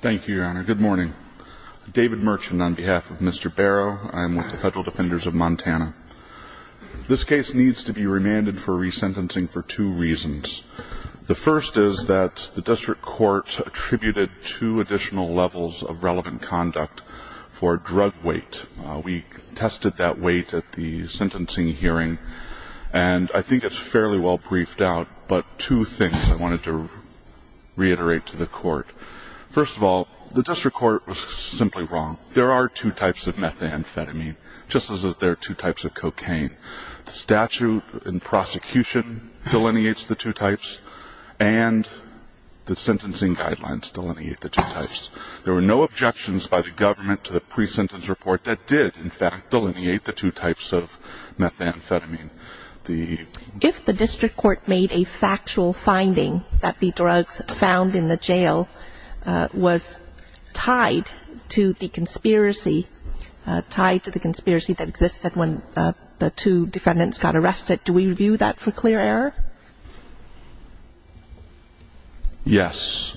Thank you, Your Honor. Good morning. David Merchant on behalf of Mr. Barrow. I'm with the Federal Defenders of Montana. This case needs to be remanded for resentencing for two reasons. The first is that the district court attributed two additional levels of relevant conduct for drug weight. We tested that weight at the sentencing hearing, and I think it's fairly well briefed out, but two things I wanted to reiterate to the court. First of all, the district court was simply wrong. There are two types of methamphetamine, just as there are two types of cocaine. The statute and prosecution delineates the two types, and the sentencing guidelines delineate the two types. There were no objections by the government to the pre-sentence report that did, in fact, delineate the two types of methamphetamine. If the district court made a factual finding that the drugs found in the jail was tied to the conspiracy that existed when the two defendants got arrested, do we review that for clear error? Yes,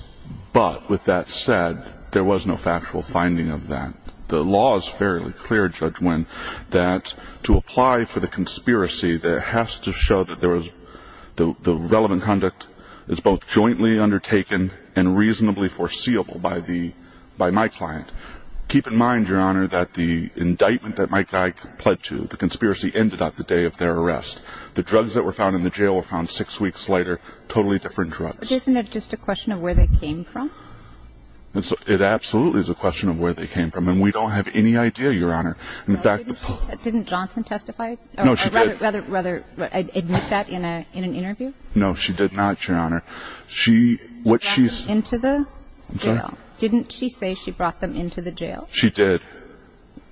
but with that said, there was no factual finding of that. The law is fairly clear, Judge Winn, that to apply for the conspiracy, it has to show that the relevant conduct is both jointly undertaken and reasonably foreseeable by my client. Keep in mind, Your Honor, that the indictment that my client pled to, the conspiracy, ended on the day of their arrest. The drugs that were found in the jail were found six weeks later, totally different drugs. Isn't it just a question of where they came from? It absolutely is a question of where they came from, and we don't have any idea, Your Honor. Didn't Johnson testify? No, she did. Or rather, admit that in an interview? No, she did not, Your Honor. She brought them into the jail. I'm sorry? Didn't she say she brought them into the jail? She did.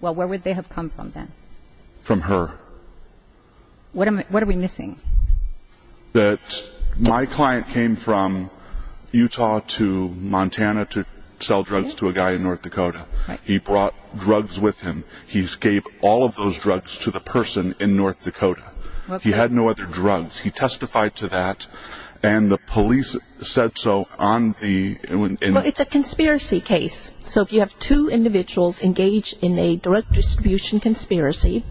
Well, where would they have come from then? From her. What are we missing? That my client came from Utah to Montana to sell drugs to a guy in North Dakota. He brought drugs with him. He gave all of those drugs to the person in North Dakota. He had no other drugs. He testified to that, and the police said so on the... Well, it's a conspiracy case. So if you have two individuals engaged in a drug distribution conspiracy,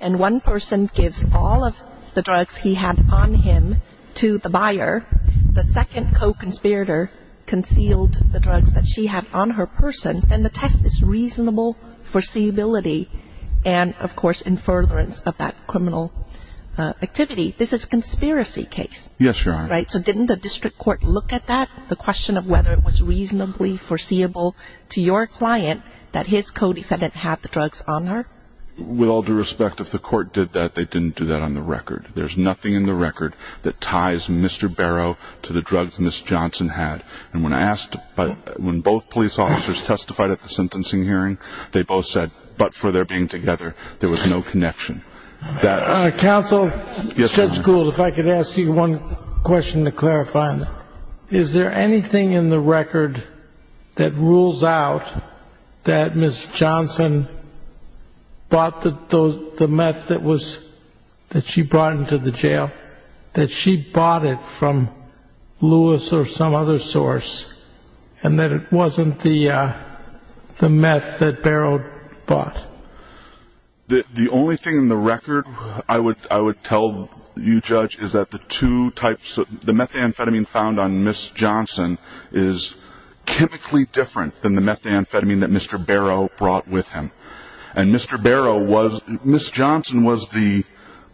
and one person gives all of the drugs he had on him to the buyer, the second co-conspirator concealed the drugs that she had on her person, then the test is reasonable foreseeability and, of course, in furtherance of that criminal activity. This is a conspiracy case. Yes, Your Honor. Right, so didn't the district court look at that, the question of whether it was reasonably foreseeable to your client that his co-defendant had the drugs on her? With all due respect, if the court did that, they didn't do that on the record. There's nothing in the record that ties Mr. Barrow to the drugs Ms. Johnson had. And when I asked, when both police officers testified at the sentencing hearing, they both said, but for their being together, there was no connection. Counsel, Judge Gould, if I could ask you one question to clarify. Is there anything in the record that rules out that Ms. Johnson bought the meth that she brought into the jail, that she bought it from Lewis or some other source, and that it wasn't the meth that Barrow bought? The only thing in the record I would tell you, Judge, is that the two types, the methamphetamine found on Ms. Johnson is chemically different than the methamphetamine that Mr. Barrow brought with him. And Mr. Barrow was, Ms. Johnson was the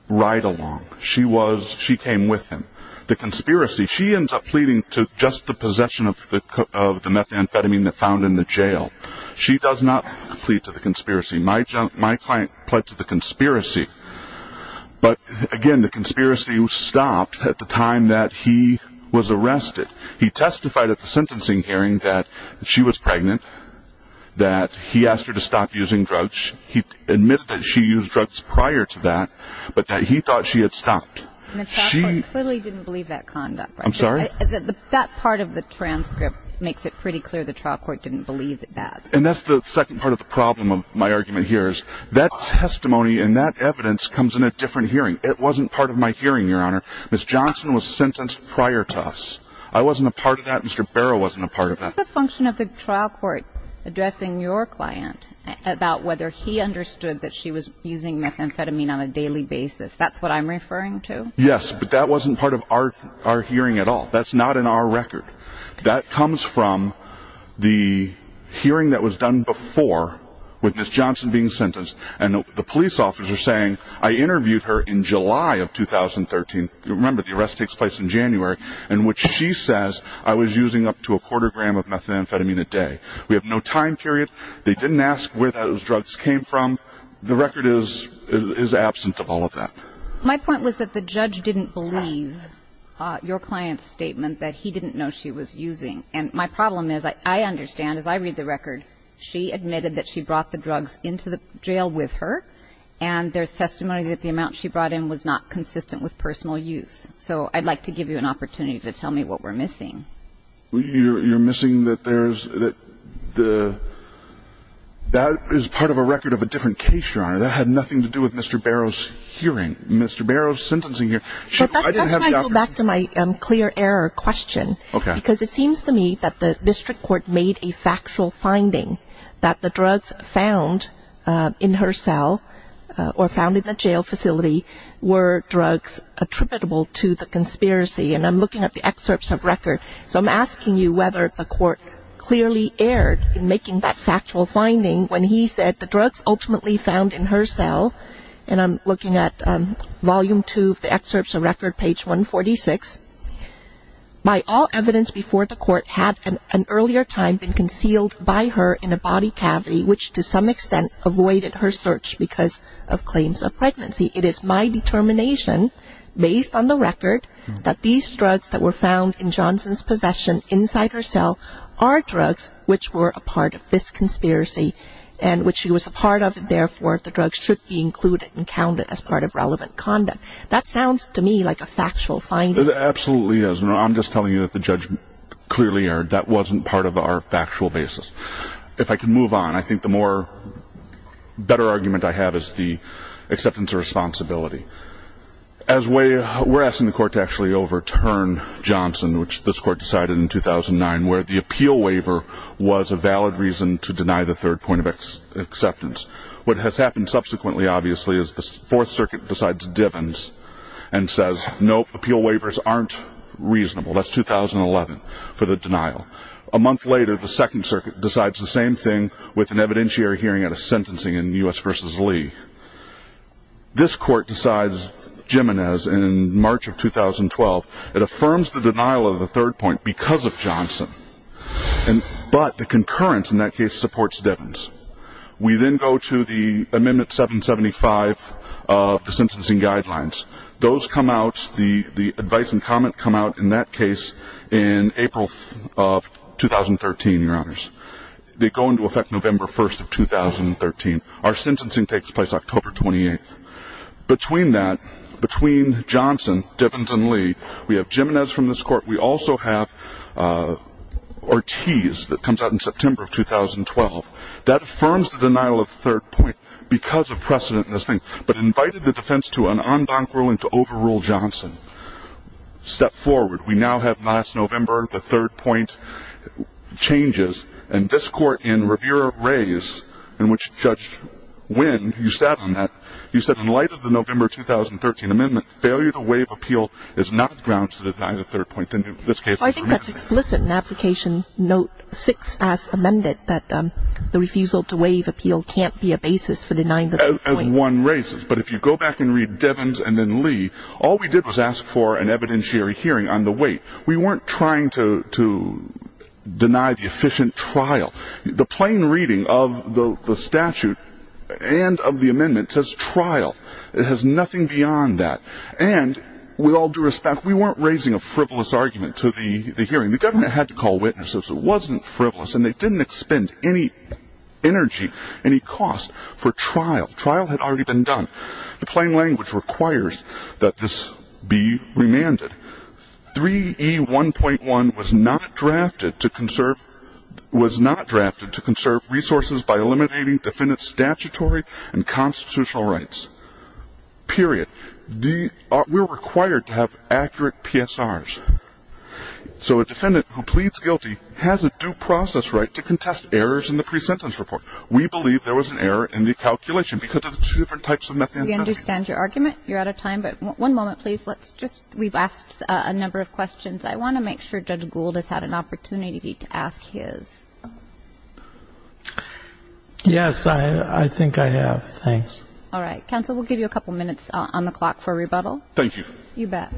ride-along. She was, she came with him. The conspiracy, she ends up pleading to just the possession of the methamphetamine that found in the jail. She does not plead to the conspiracy. My client pled to the conspiracy. But, again, the conspiracy was stopped at the time that he was arrested. He testified at the sentencing hearing that she was pregnant, that he asked her to stop using drugs. He admitted that she used drugs prior to that, but that he thought she had stopped. And the trial court clearly didn't believe that conduct, right? I'm sorry? That part of the transcript makes it pretty clear the trial court didn't believe that. And that's the second part of the problem of my argument here is that testimony and that evidence comes in a different hearing. It wasn't part of my hearing, Your Honor. Ms. Johnson was sentenced prior to us. I wasn't a part of that. Mr. Barrow wasn't a part of that. It's a function of the trial court addressing your client about whether he understood that she was using methamphetamine on a daily basis. That's what I'm referring to? Yes, but that wasn't part of our hearing at all. That's not in our record. That comes from the hearing that was done before with Ms. Johnson being sentenced and the police officer saying, I interviewed her in July of 2013. Remember, the arrest takes place in January, in which she says I was using up to a quarter gram of methamphetamine a day. We have no time period. They didn't ask where those drugs came from. The record is absent of all of that. My point was that the judge didn't believe your client's statement that he didn't know she was using. And my problem is, I understand, as I read the record, she admitted that she brought the drugs into the jail with her, and there's testimony that the amount she brought in was not consistent with personal use. So I'd like to give you an opportunity to tell me what we're missing. You're missing that there's the – that is part of a record of a different case, Your Honor. That had nothing to do with Mr. Barrow's hearing, Mr. Barrow's sentencing hearing. That's why I go back to my clear error question. Okay. Because it seems to me that the district court made a factual finding that the drugs found in her cell or found in the jail facility were drugs attributable to the conspiracy. And I'm looking at the excerpts of record. So I'm asking you whether the court clearly erred in making that factual finding when he said that the drugs ultimately found in her cell, and I'm looking at volume two of the excerpts of record, page 146, by all evidence before the court had an earlier time been concealed by her in a body cavity, which to some extent avoided her search because of claims of pregnancy. It is my determination, based on the record, that these drugs that were found in Johnson's possession inside her cell are drugs which were a part of this conspiracy and which she was a part of, and therefore the drugs should be included and counted as part of relevant conduct. That sounds to me like a factual finding. It absolutely is. I'm just telling you that the judge clearly erred. That wasn't part of our factual basis. If I can move on, I think the more better argument I have is the acceptance of responsibility. We're asking the court to actually overturn Johnson, which this court decided in 2009, where the appeal waiver was a valid reason to deny the third point of acceptance. What has happened subsequently, obviously, is the Fourth Circuit decides Divens and says, nope, appeal waivers aren't reasonable. That's 2011 for the denial. A month later, the Second Circuit decides the same thing with an evidentiary hearing and a sentencing in U.S. v. Lee. This court decides Jimenez in March of 2012. It affirms the denial of the third point because of Johnson, but the concurrence in that case supports Divens. We then go to the Amendment 775 of the sentencing guidelines. Those come out, the advice and comment come out in that case in April of 2013, Your Honors. They go into effect November 1st of 2013. Our sentencing takes place October 28th. Between that, between Johnson, Divens, and Lee, we have Jimenez from this court. We also have Ortiz that comes out in September of 2012. That affirms the denial of third point because of precedent in this thing, but invited the defense to an en banc ruling to overrule Johnson. Step forward. We now have, last November, the third point changes, and this court in Revere Rays in which Judge Wynn, who sat on that, he said in light of the November 2013 amendment, failure to waive appeal is not the grounds to deny the third point. I think that's explicit in Application Note 6 as amended, that the refusal to waive appeal can't be a basis for denying the third point. As one raises, but if you go back and read Divens and then Lee, all we did was ask for an evidentiary hearing on the weight. We weren't trying to deny the efficient trial. The plain reading of the statute and of the amendment says trial. It has nothing beyond that. And with all due respect, we weren't raising a frivolous argument to the hearing. The government had to call witnesses. It wasn't frivolous, and they didn't expend any energy, any cost for trial. Trial had already been done. The plain language requires that this be remanded. 3E1.1 was not drafted to conserve resources by eliminating defendant's statutory and constitutional rights, period. We're required to have accurate PSRs. So a defendant who pleads guilty has a due process right to contest errors in the pre-sentence report. We believe there was an error in the calculation because of the two different types of methods. We understand your argument. You're out of time, but one moment, please. Let's just we've asked a number of questions. I want to make sure Judge Gould has had an opportunity to ask his. Yes, I think I have. Thanks. All right. Counsel, we'll give you a couple minutes on the clock for rebuttal. Thank you. You bet.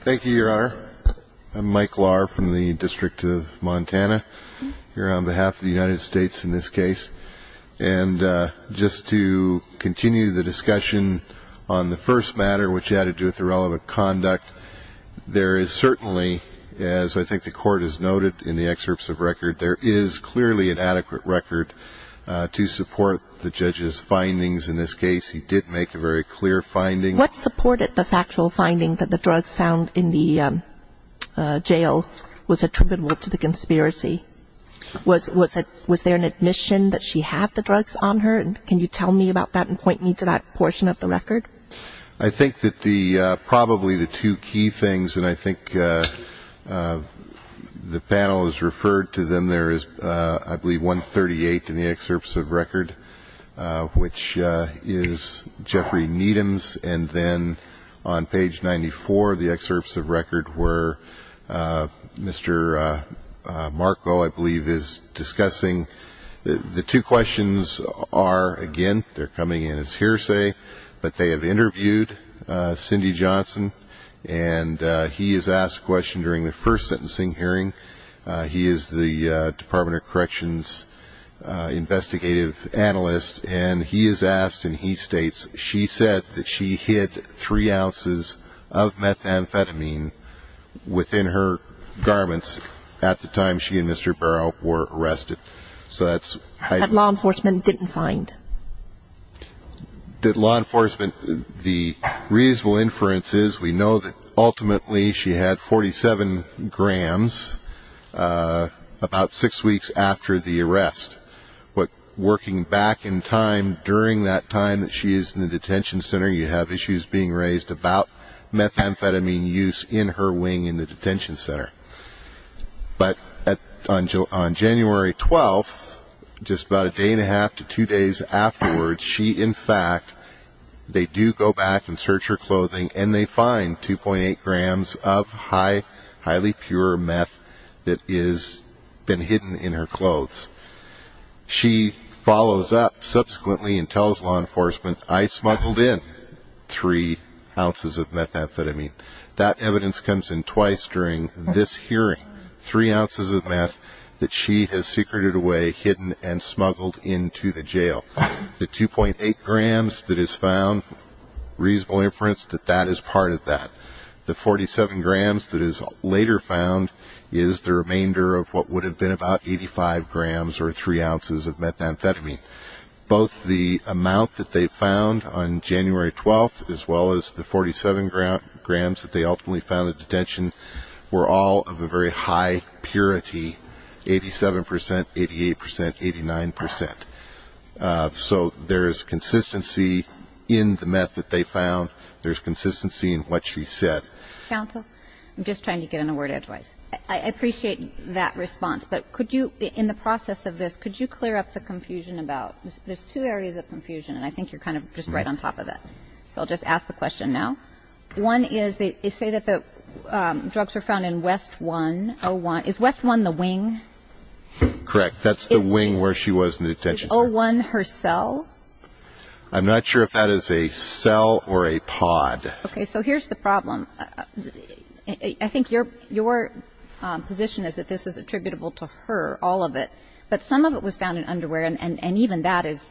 Thank you, Your Honor. I'm Mike Lahr from the District of Montana here on behalf of the United States in this case. And just to continue the discussion on the first matter, which had to do with the relevant conduct, there is certainly, as I think the Court has noted in the excerpts of record, there is clearly an adequate record to support the judge's findings. In this case, he did make a very clear finding. What supported the factual finding that the drugs found in the jail was attributable to the conspiracy? Was there an admission that she had the drugs on her? Can you tell me about that and point me to that portion of the record? I think that probably the two key things, and I think the panel has referred to them, there is I believe 138 in the excerpts of record, which is Jeffrey Needham's. And then on page 94 of the excerpts of record where Mr. Marco, I believe, is discussing. The two questions are, again, they're coming in as hearsay, but they have interviewed Cindy Johnson, and he has asked a question during the first sentencing hearing. He is the Department of Corrections investigative analyst, and he has asked and he states she said that she hid three ounces of methamphetamine within her garments at the time she and Mr. Barrow were arrested. That law enforcement didn't find? That law enforcement, the reasonable inference is we know that ultimately she had 47 grams about six weeks after the arrest. Working back in time during that time that she is in the detention center, you have issues being raised about methamphetamine use in her wing in the detention center. But on January 12th, just about a day and a half to two days afterwards, she in fact, they do go back and search her clothing, and they find 2.8 grams of highly pure meth that has been hidden in her clothes. She follows up subsequently and tells law enforcement, I smuggled in three ounces of methamphetamine. That evidence comes in twice during this hearing, three ounces of meth that she has secreted away, hidden, and smuggled into the jail. The 2.8 grams that is found, reasonable inference that that is part of that. The 47 grams that is later found is the remainder of what would have been about 85 grams or three ounces of methamphetamine. Both the amount that they found on January 12th as well as the 47 grams that they ultimately found at detention were all of a very high purity, 87%, 88%, 89%. So there is consistency in the meth that they found. There is consistency in what she said. Counsel, I'm just trying to get in a word of advice. I appreciate that response, but could you, in the process of this, could you clear up the confusion about, there's two areas of confusion, and I think you're kind of just right on top of that. So I'll just ask the question now. One is they say that the drugs were found in West 101. Is West 1 the wing? Correct. That's the wing where she was in the detention center. Is 01 her cell? I'm not sure if that is a cell or a pod. Okay. So here's the problem. I think your position is that this is attributable to her, all of it, but some of it was found in underwear, and even that is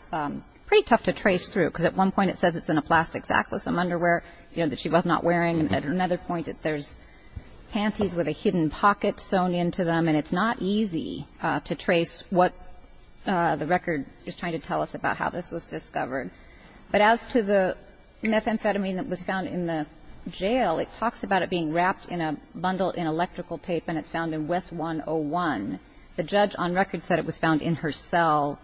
pretty tough to trace through because at one point it says it's in a plastic sack with some underwear that she was not wearing, and at another point that there's panties with a hidden pocket sewn into them, and it's not easy to trace what the record is trying to tell us about how this was discovered. But as to the methamphetamine that was found in the jail, it talks about it being wrapped in a bundle in electrical tape and it's found in West 101. The judge on record said it was found in her cell.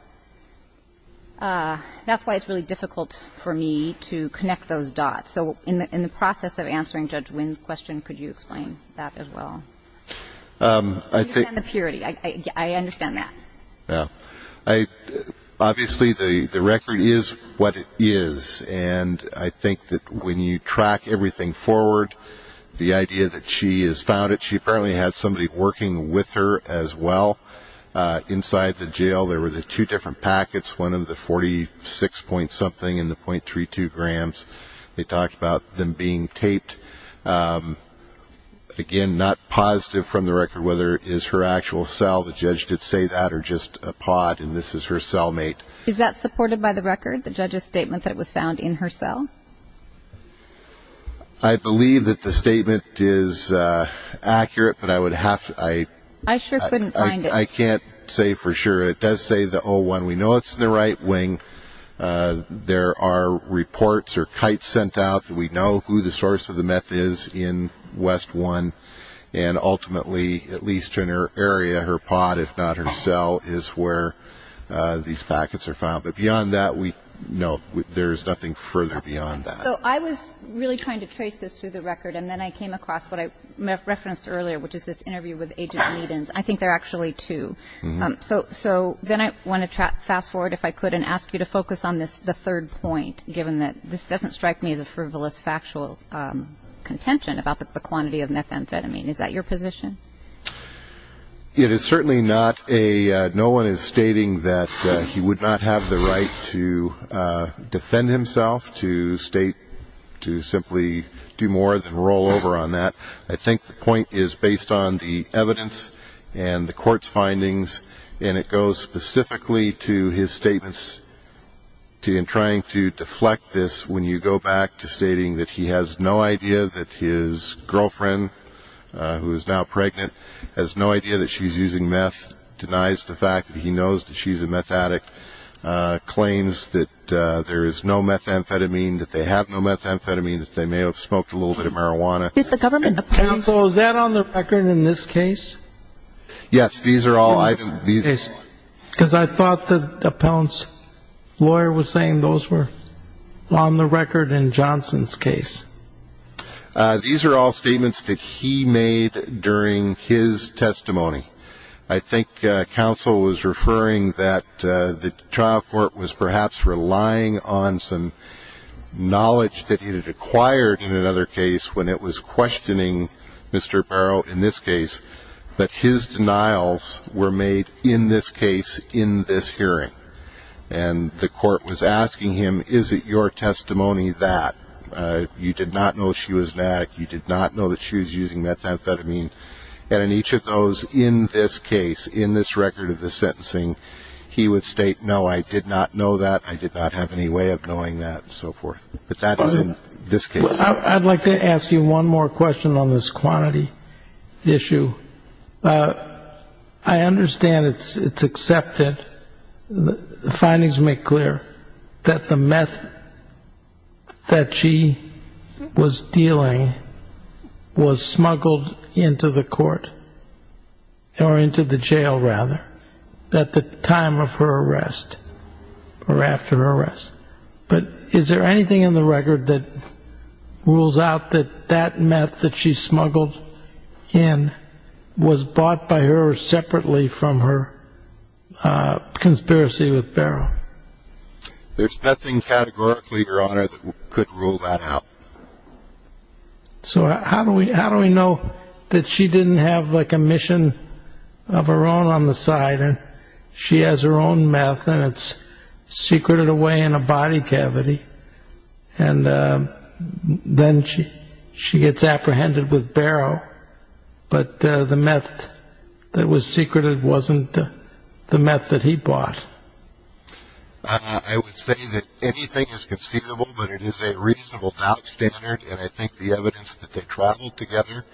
That's why it's really difficult for me to connect those dots. So in the process of answering Judge Wynn's question, could you explain that as well? I understand the purity. I understand that. Yeah. Obviously the record is what it is, and I think that when you track everything forward, the idea that she has found it, she apparently had somebody working with her as well inside the jail. There were the two different packets, one of the 46-point-something and the .32 grams. They talked about them being taped. Again, not positive from the record whether it is her actual cell. The judge did say that or just a pod, and this is her cellmate. Is that supported by the record, the judge's statement that it was found in her cell? I believe that the statement is accurate, but I would have to— I sure couldn't find it. I can't say for sure. It does say the O1. We know it's in the right wing. There are reports or kites sent out that we know who the source of the meth is in West 1, and ultimately, at least in her area, her pod, if not her cell, is where these packets are found. But beyond that, no, there's nothing further beyond that. So I was really trying to trace this through the record, and then I came across what I referenced earlier, which is this interview with Agent Leedens. I think there are actually two. So then I want to fast forward, if I could, and ask you to focus on the third point, given that this doesn't strike me as a frivolous factual contention about the quantity of methamphetamine. Is that your position? It is certainly not a—no one is stating that he would not have the right to defend himself, to simply do more than roll over on that. I think the point is based on the evidence and the court's findings, and it goes specifically to his statements in trying to deflect this when you go back to stating that he has no idea that his girlfriend, who is now pregnant, has no idea that she's using meth, denies the fact that he knows that she's a meth addict, claims that there is no methamphetamine, that they have no methamphetamine, that they may have smoked a little bit of marijuana. Counsel, is that on the record in this case? Yes. Because I thought the appellant's lawyer was saying those were on the record in Johnson's case. These are all statements that he made during his testimony. I think counsel was referring that the trial court was perhaps relying on some knowledge that he had acquired in another case when it was questioning Mr. Barrow in this case, but his denials were made in this case, in this hearing. And the court was asking him, is it your testimony that you did not know she was an addict, you did not know that she was using methamphetamine, and in each of those in this case, in this record of the sentencing, he would state, no, I did not know that, I did not have any way of knowing that, and so forth. But that is in this case. I'd like to ask you one more question on this quantity issue. I understand it's accepted, the findings make clear, that the meth that she was dealing was smuggled into the court, or into the jail, rather, at the time of her arrest, or after her arrest. But is there anything in the record that rules out that that meth that she smuggled in was bought by her separately from her conspiracy with Barrow? There's nothing categorically, Your Honor, that could rule that out. So how do we know that she didn't have, like, a mission of her own on the side, and she has her own meth, and it's secreted away in a body cavity, and then she gets apprehended with Barrow, but the meth that was secreted wasn't the meth that he bought? I would say that anything is conceivable, but it is a reasonable doubt standard, and I think the evidence that they traveled together,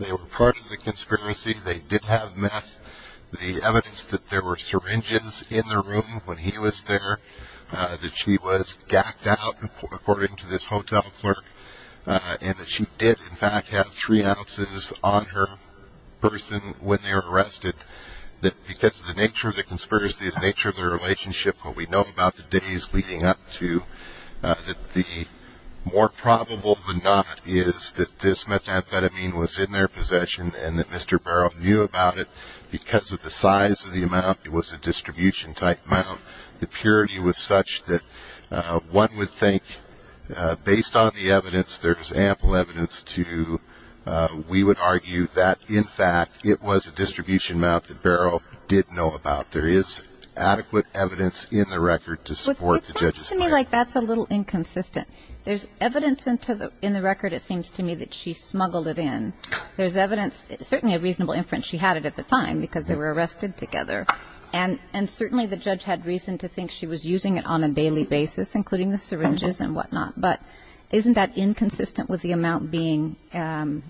they were part of the conspiracy, they did have meth. The evidence that there were syringes in the room when he was there, that she was gacked out, according to this hotel clerk, and that she did, in fact, have three ounces on her person when they were arrested, that because of the nature of the conspiracy, the nature of the relationship, what we know about the days leading up to, that the more probable than not is that this methamphetamine was in their possession and that Mr. Barrow knew about it because of the size of the amount. It was a distribution type amount. The purity was such that one would think, based on the evidence, there's ample evidence to, we would argue that, in fact, it was a distribution amount that Barrow did know about. There is adequate evidence in the record to support the judge's claim. It sounds to me like that's a little inconsistent. There's evidence in the record, it seems to me, that she smuggled it in. There's evidence, certainly a reasonable inference, she had it at the time because they were arrested together. And certainly the judge had reason to think she was using it on a daily basis, including the syringes and whatnot. But isn't that inconsistent with the amount being inconsistent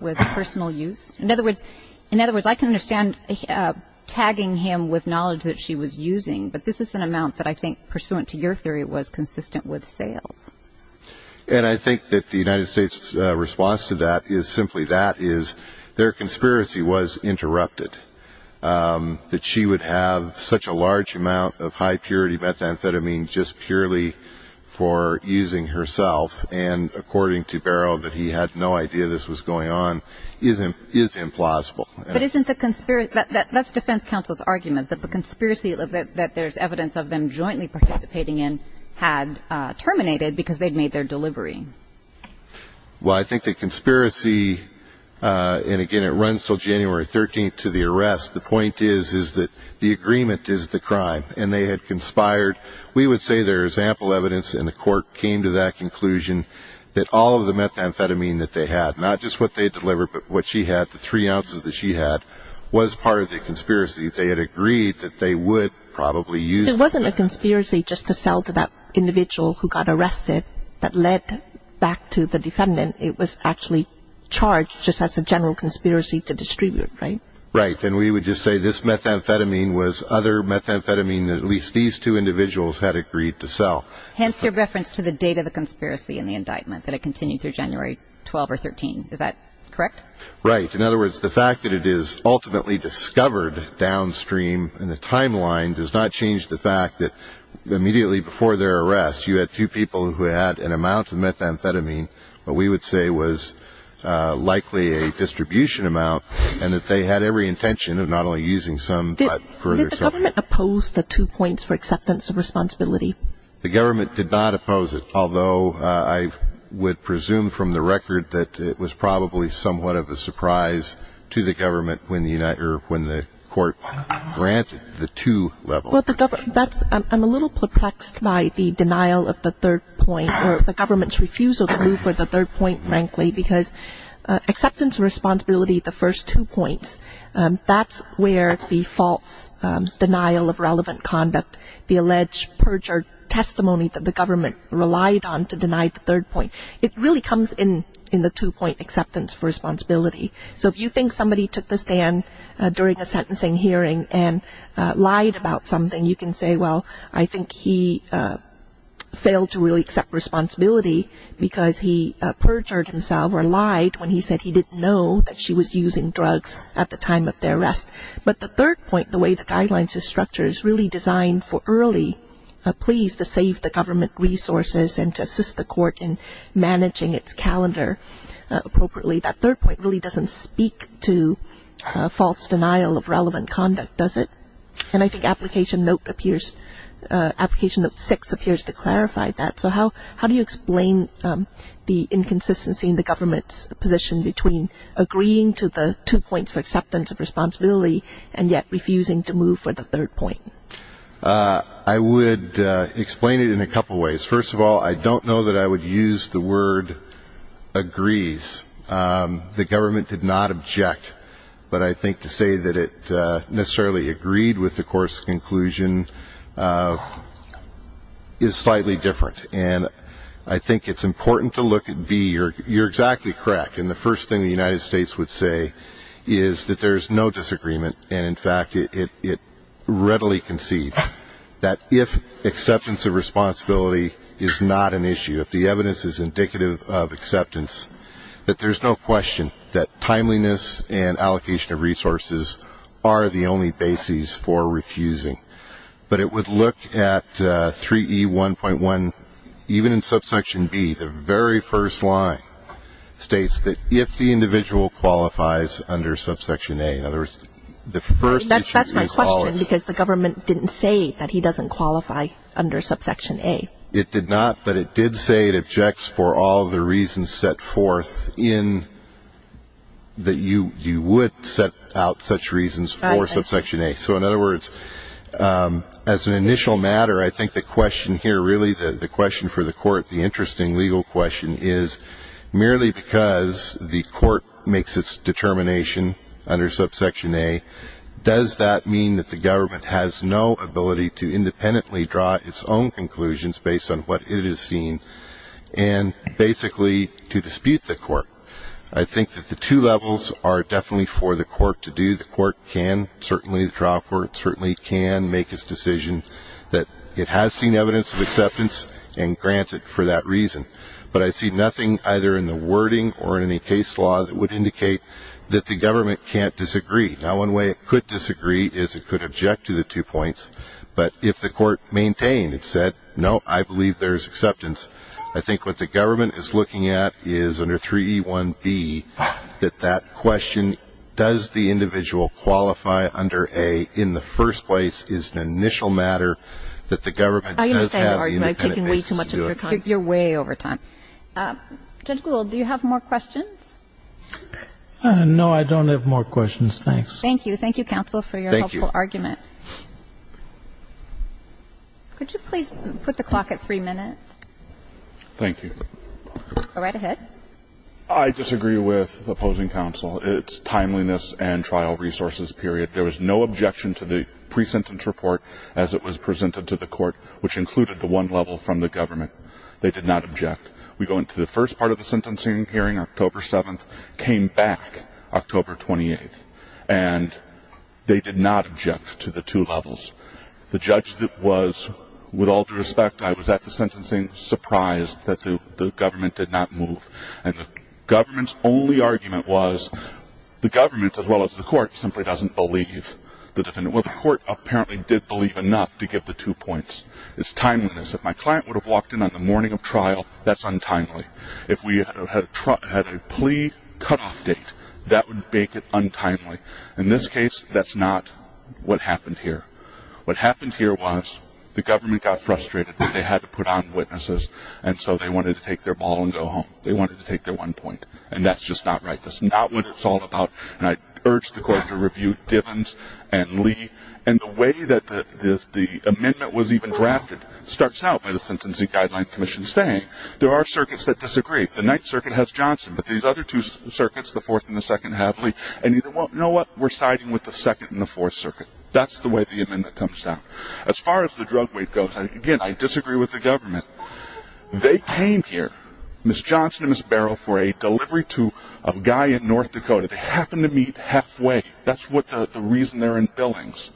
with personal use? In other words, I can understand tagging him with knowledge that she was using, but this is an amount that I think, pursuant to your theory, was consistent with sales. And I think that the United States' response to that is simply that, is their conspiracy was interrupted, that she would have such a large amount of high-purity methamphetamine just purely for using herself, and according to Barrow, that he had no idea this was going on, is implausible. But isn't the conspiracy, that's defense counsel's argument, that the conspiracy that there's evidence of them jointly participating in had terminated because they'd made their delivery? Well, I think the conspiracy, and again, it runs until January 13th to the arrest. The point is, is that the agreement is the crime, and they had conspired. We would say there is ample evidence, and the court came to that conclusion, that all of the methamphetamine that they had, not just what they delivered, but what she had, the three ounces that she had, was part of the conspiracy. They had agreed that they would probably use that. So it wasn't a conspiracy just to sell to that individual who got arrested that led back to the defendant. It was actually charged just as a general conspiracy to distribute, right? Right. And we would just say this methamphetamine was other methamphetamine that at least these two individuals had agreed to sell. Hence your reference to the date of the conspiracy in the indictment, that it continued through January 12th or 13th. Is that correct? Right. In other words, the fact that it is ultimately discovered downstream in the timeline does not change the fact that immediately before their arrest, you had two people who had an amount of methamphetamine, what we would say was likely a distribution amount, and that they had every intention of not only using some, but further. Did the government oppose the two points for acceptance of responsibility? The government did not oppose it, although I would presume from the record that it was probably somewhat of a surprise to the government when the court granted the two levels. I'm a little perplexed by the denial of the third point, or the government's refusal to move for the third point, frankly, because acceptance of responsibility, the first two points, that's where the false denial of relevant conduct, the alleged perjured testimony that the government relied on to deny the third point, it really comes in the two-point acceptance for responsibility. So if you think somebody took the stand during a sentencing hearing and lied about something, you can say, well, I think he failed to really accept responsibility because he perjured himself or lied when he said he didn't know that she was using drugs at the time of their arrest. But the third point, the way the guidelines are structured, is really designed for early pleas to save the government resources and to assist the court in managing its calendar appropriately. That third point really doesn't speak to false denial of relevant conduct, does it? And I think Application Note 6 appears to clarify that. So how do you explain the inconsistency in the government's position between agreeing to the two points for acceptance of responsibility and yet refusing to move for the third point? I would explain it in a couple ways. First of all, I don't know that I would use the word agrees. The government did not object, but I think to say that it necessarily agreed with the court's conclusion is slightly different. And I think it's important to look at B. You're exactly correct, and the first thing the United States would say is that there's no disagreement, and, in fact, it readily concedes that if acceptance of responsibility is not an issue, if the evidence is indicative of acceptance, that there's no question that timeliness and allocation of resources are the only basis for refusing. But it would look at 3E1.1, even in subsection B, the very first line states that if the individual qualifies under subsection A. In other words, the first issue is always. That's my question, because the government didn't say that he doesn't qualify under subsection A. It did not, but it did say it objects for all the reasons set forth in that you would set out such reasons for subsection A. So, in other words, as an initial matter, I think the question here really, the question for the court, the interesting legal question is merely because the court makes its determination under subsection A, does that mean that the government has no ability to independently draw its own conclusions based on what it has seen and basically to dispute the court? I think that the two levels are definitely for the court to do. Certainly the court can, certainly the trial court certainly can make its decision that it has seen evidence of acceptance and grant it for that reason. But I see nothing either in the wording or in any case law that would indicate that the government can't disagree. Now, one way it could disagree is it could object to the two points. But if the court maintained and said, no, I believe there's acceptance, I think what the government is looking at is under 3E1.B, that that question, does the individual qualify under A in the first place is an initial matter that the government does have independent basis to do it. I understand your argument. I've taken way too much of your time. You're way over time. Judge Gould, do you have more questions? No, I don't have more questions. Thanks. Thank you. Thank you, counsel, for your helpful argument. Thank you. Could you please put the clock at 3 minutes? Thank you. Go right ahead. I disagree with the opposing counsel. It's timeliness and trial resources period. There was no objection to the pre-sentence report as it was presented to the court, which included the one level from the government. They did not object. We go into the first part of the sentencing hearing, October 7th, came back October 28th, and they did not object to the two levels. The judge was, with all due respect, I was at the sentencing surprised that the government did not move. And the government's only argument was the government, as well as the court, simply doesn't believe the defendant. Well, the court apparently did believe enough to give the two points. It's timeliness. If my client would have walked in on the morning of trial, that's untimely. If we had a plea cutoff date, that would make it untimely. In this case, that's not what happened here. What happened here was the government got frustrated that they had to put on witnesses, and so they wanted to take their ball and go home. They wanted to take their one point. And that's just not right. That's not what it's all about. And I urge the court to review Divens and Lee. And the way that the amendment was even drafted starts out by the Sentencing Guideline Commission saying there are circuits that disagree. The Ninth Circuit has Johnson, but these other two circuits, the Fourth and the Second, have Lee. And you know what? We're siding with the Second and the Fourth Circuit. That's the way the amendment comes down. As far as the drug weight goes, again, I disagree with the government. They came here, Ms. Johnson and Ms. Barrow, for a delivery to a guy in North Dakota. They happened to meet halfway. That's the reason they're in Billings.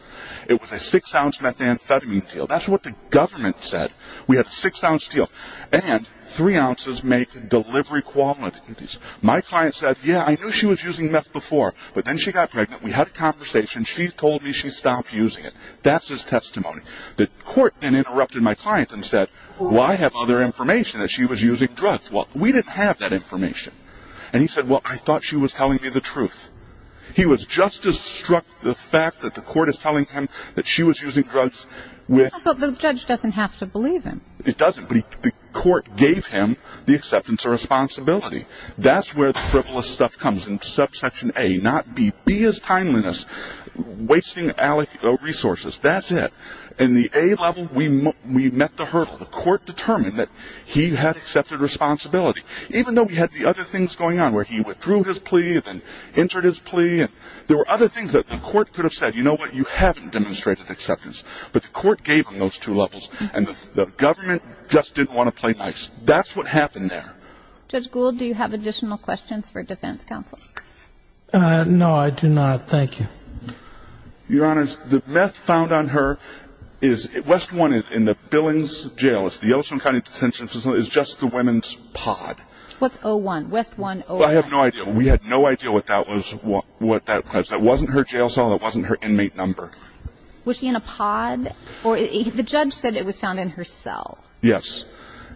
It was a six-ounce methamphetamine deal. That's what the government said. We had a six-ounce deal. And three ounces make delivery qualities. My client said, yeah, I knew she was using meth before, but then she got pregnant. We had a conversation. She told me she stopped using it. That's his testimony. The court then interrupted my client and said, well, I have other information that she was using drugs. Well, we didn't have that information. And he said, well, I thought she was telling me the truth. He was just as struck, the fact that the court is telling him that she was using drugs. I thought the judge doesn't have to believe him. It doesn't, but the court gave him the acceptance of responsibility. That's where the frivolous stuff comes in subsection A, not B. B is timeliness, wasting resources. That's it. In the A level, we met the hurdle. The court determined that he had accepted responsibility, even though we had the other things going on where he withdrew his plea and then entered his plea. There were other things that the court could have said, you know what, you haven't demonstrated acceptance. But the court gave him those two levels, and the government just didn't want to play nice. That's what happened there. Judge Gould, do you have additional questions for defense counsel? No, I do not. Thank you. Your Honor, the meth found on her is West 1 in the Billings Jail. It's the Yellowstone County Detention Facility. It's just the women's pod. What's O1, West 1 O1? Well, I have no idea. We had no idea what that was. That wasn't her jail cell. That wasn't her inmate number. Was she in a pod? The judge said it was found in her cell. Yes.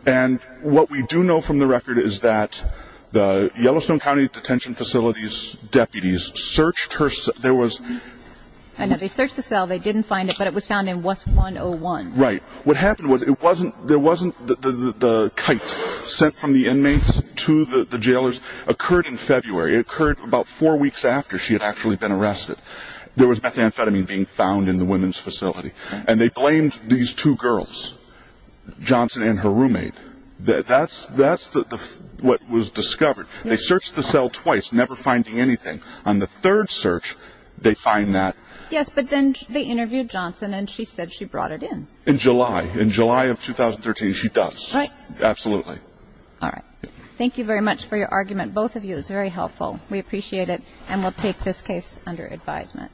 And what we do know from the record is that the Yellowstone County Detention Facility's deputies searched her cell. I know. They searched the cell. They didn't find it, but it was found in West 1 O1. Right. What happened was there wasn't the kite sent from the inmates to the jailers. It occurred in February. It occurred about four weeks after she had actually been arrested. There was methamphetamine being found in the women's facility, and they blamed these two girls, Johnson and her roommate. That's what was discovered. They searched the cell twice, never finding anything. On the third search, they find that. Yes, but then they interviewed Johnson, and she said she brought it in. In July. In July of 2013, she does. Right. Absolutely. All right. Thank you very much for your argument. Both of you, it was very helpful. We appreciate it, and we'll take this case under advisement.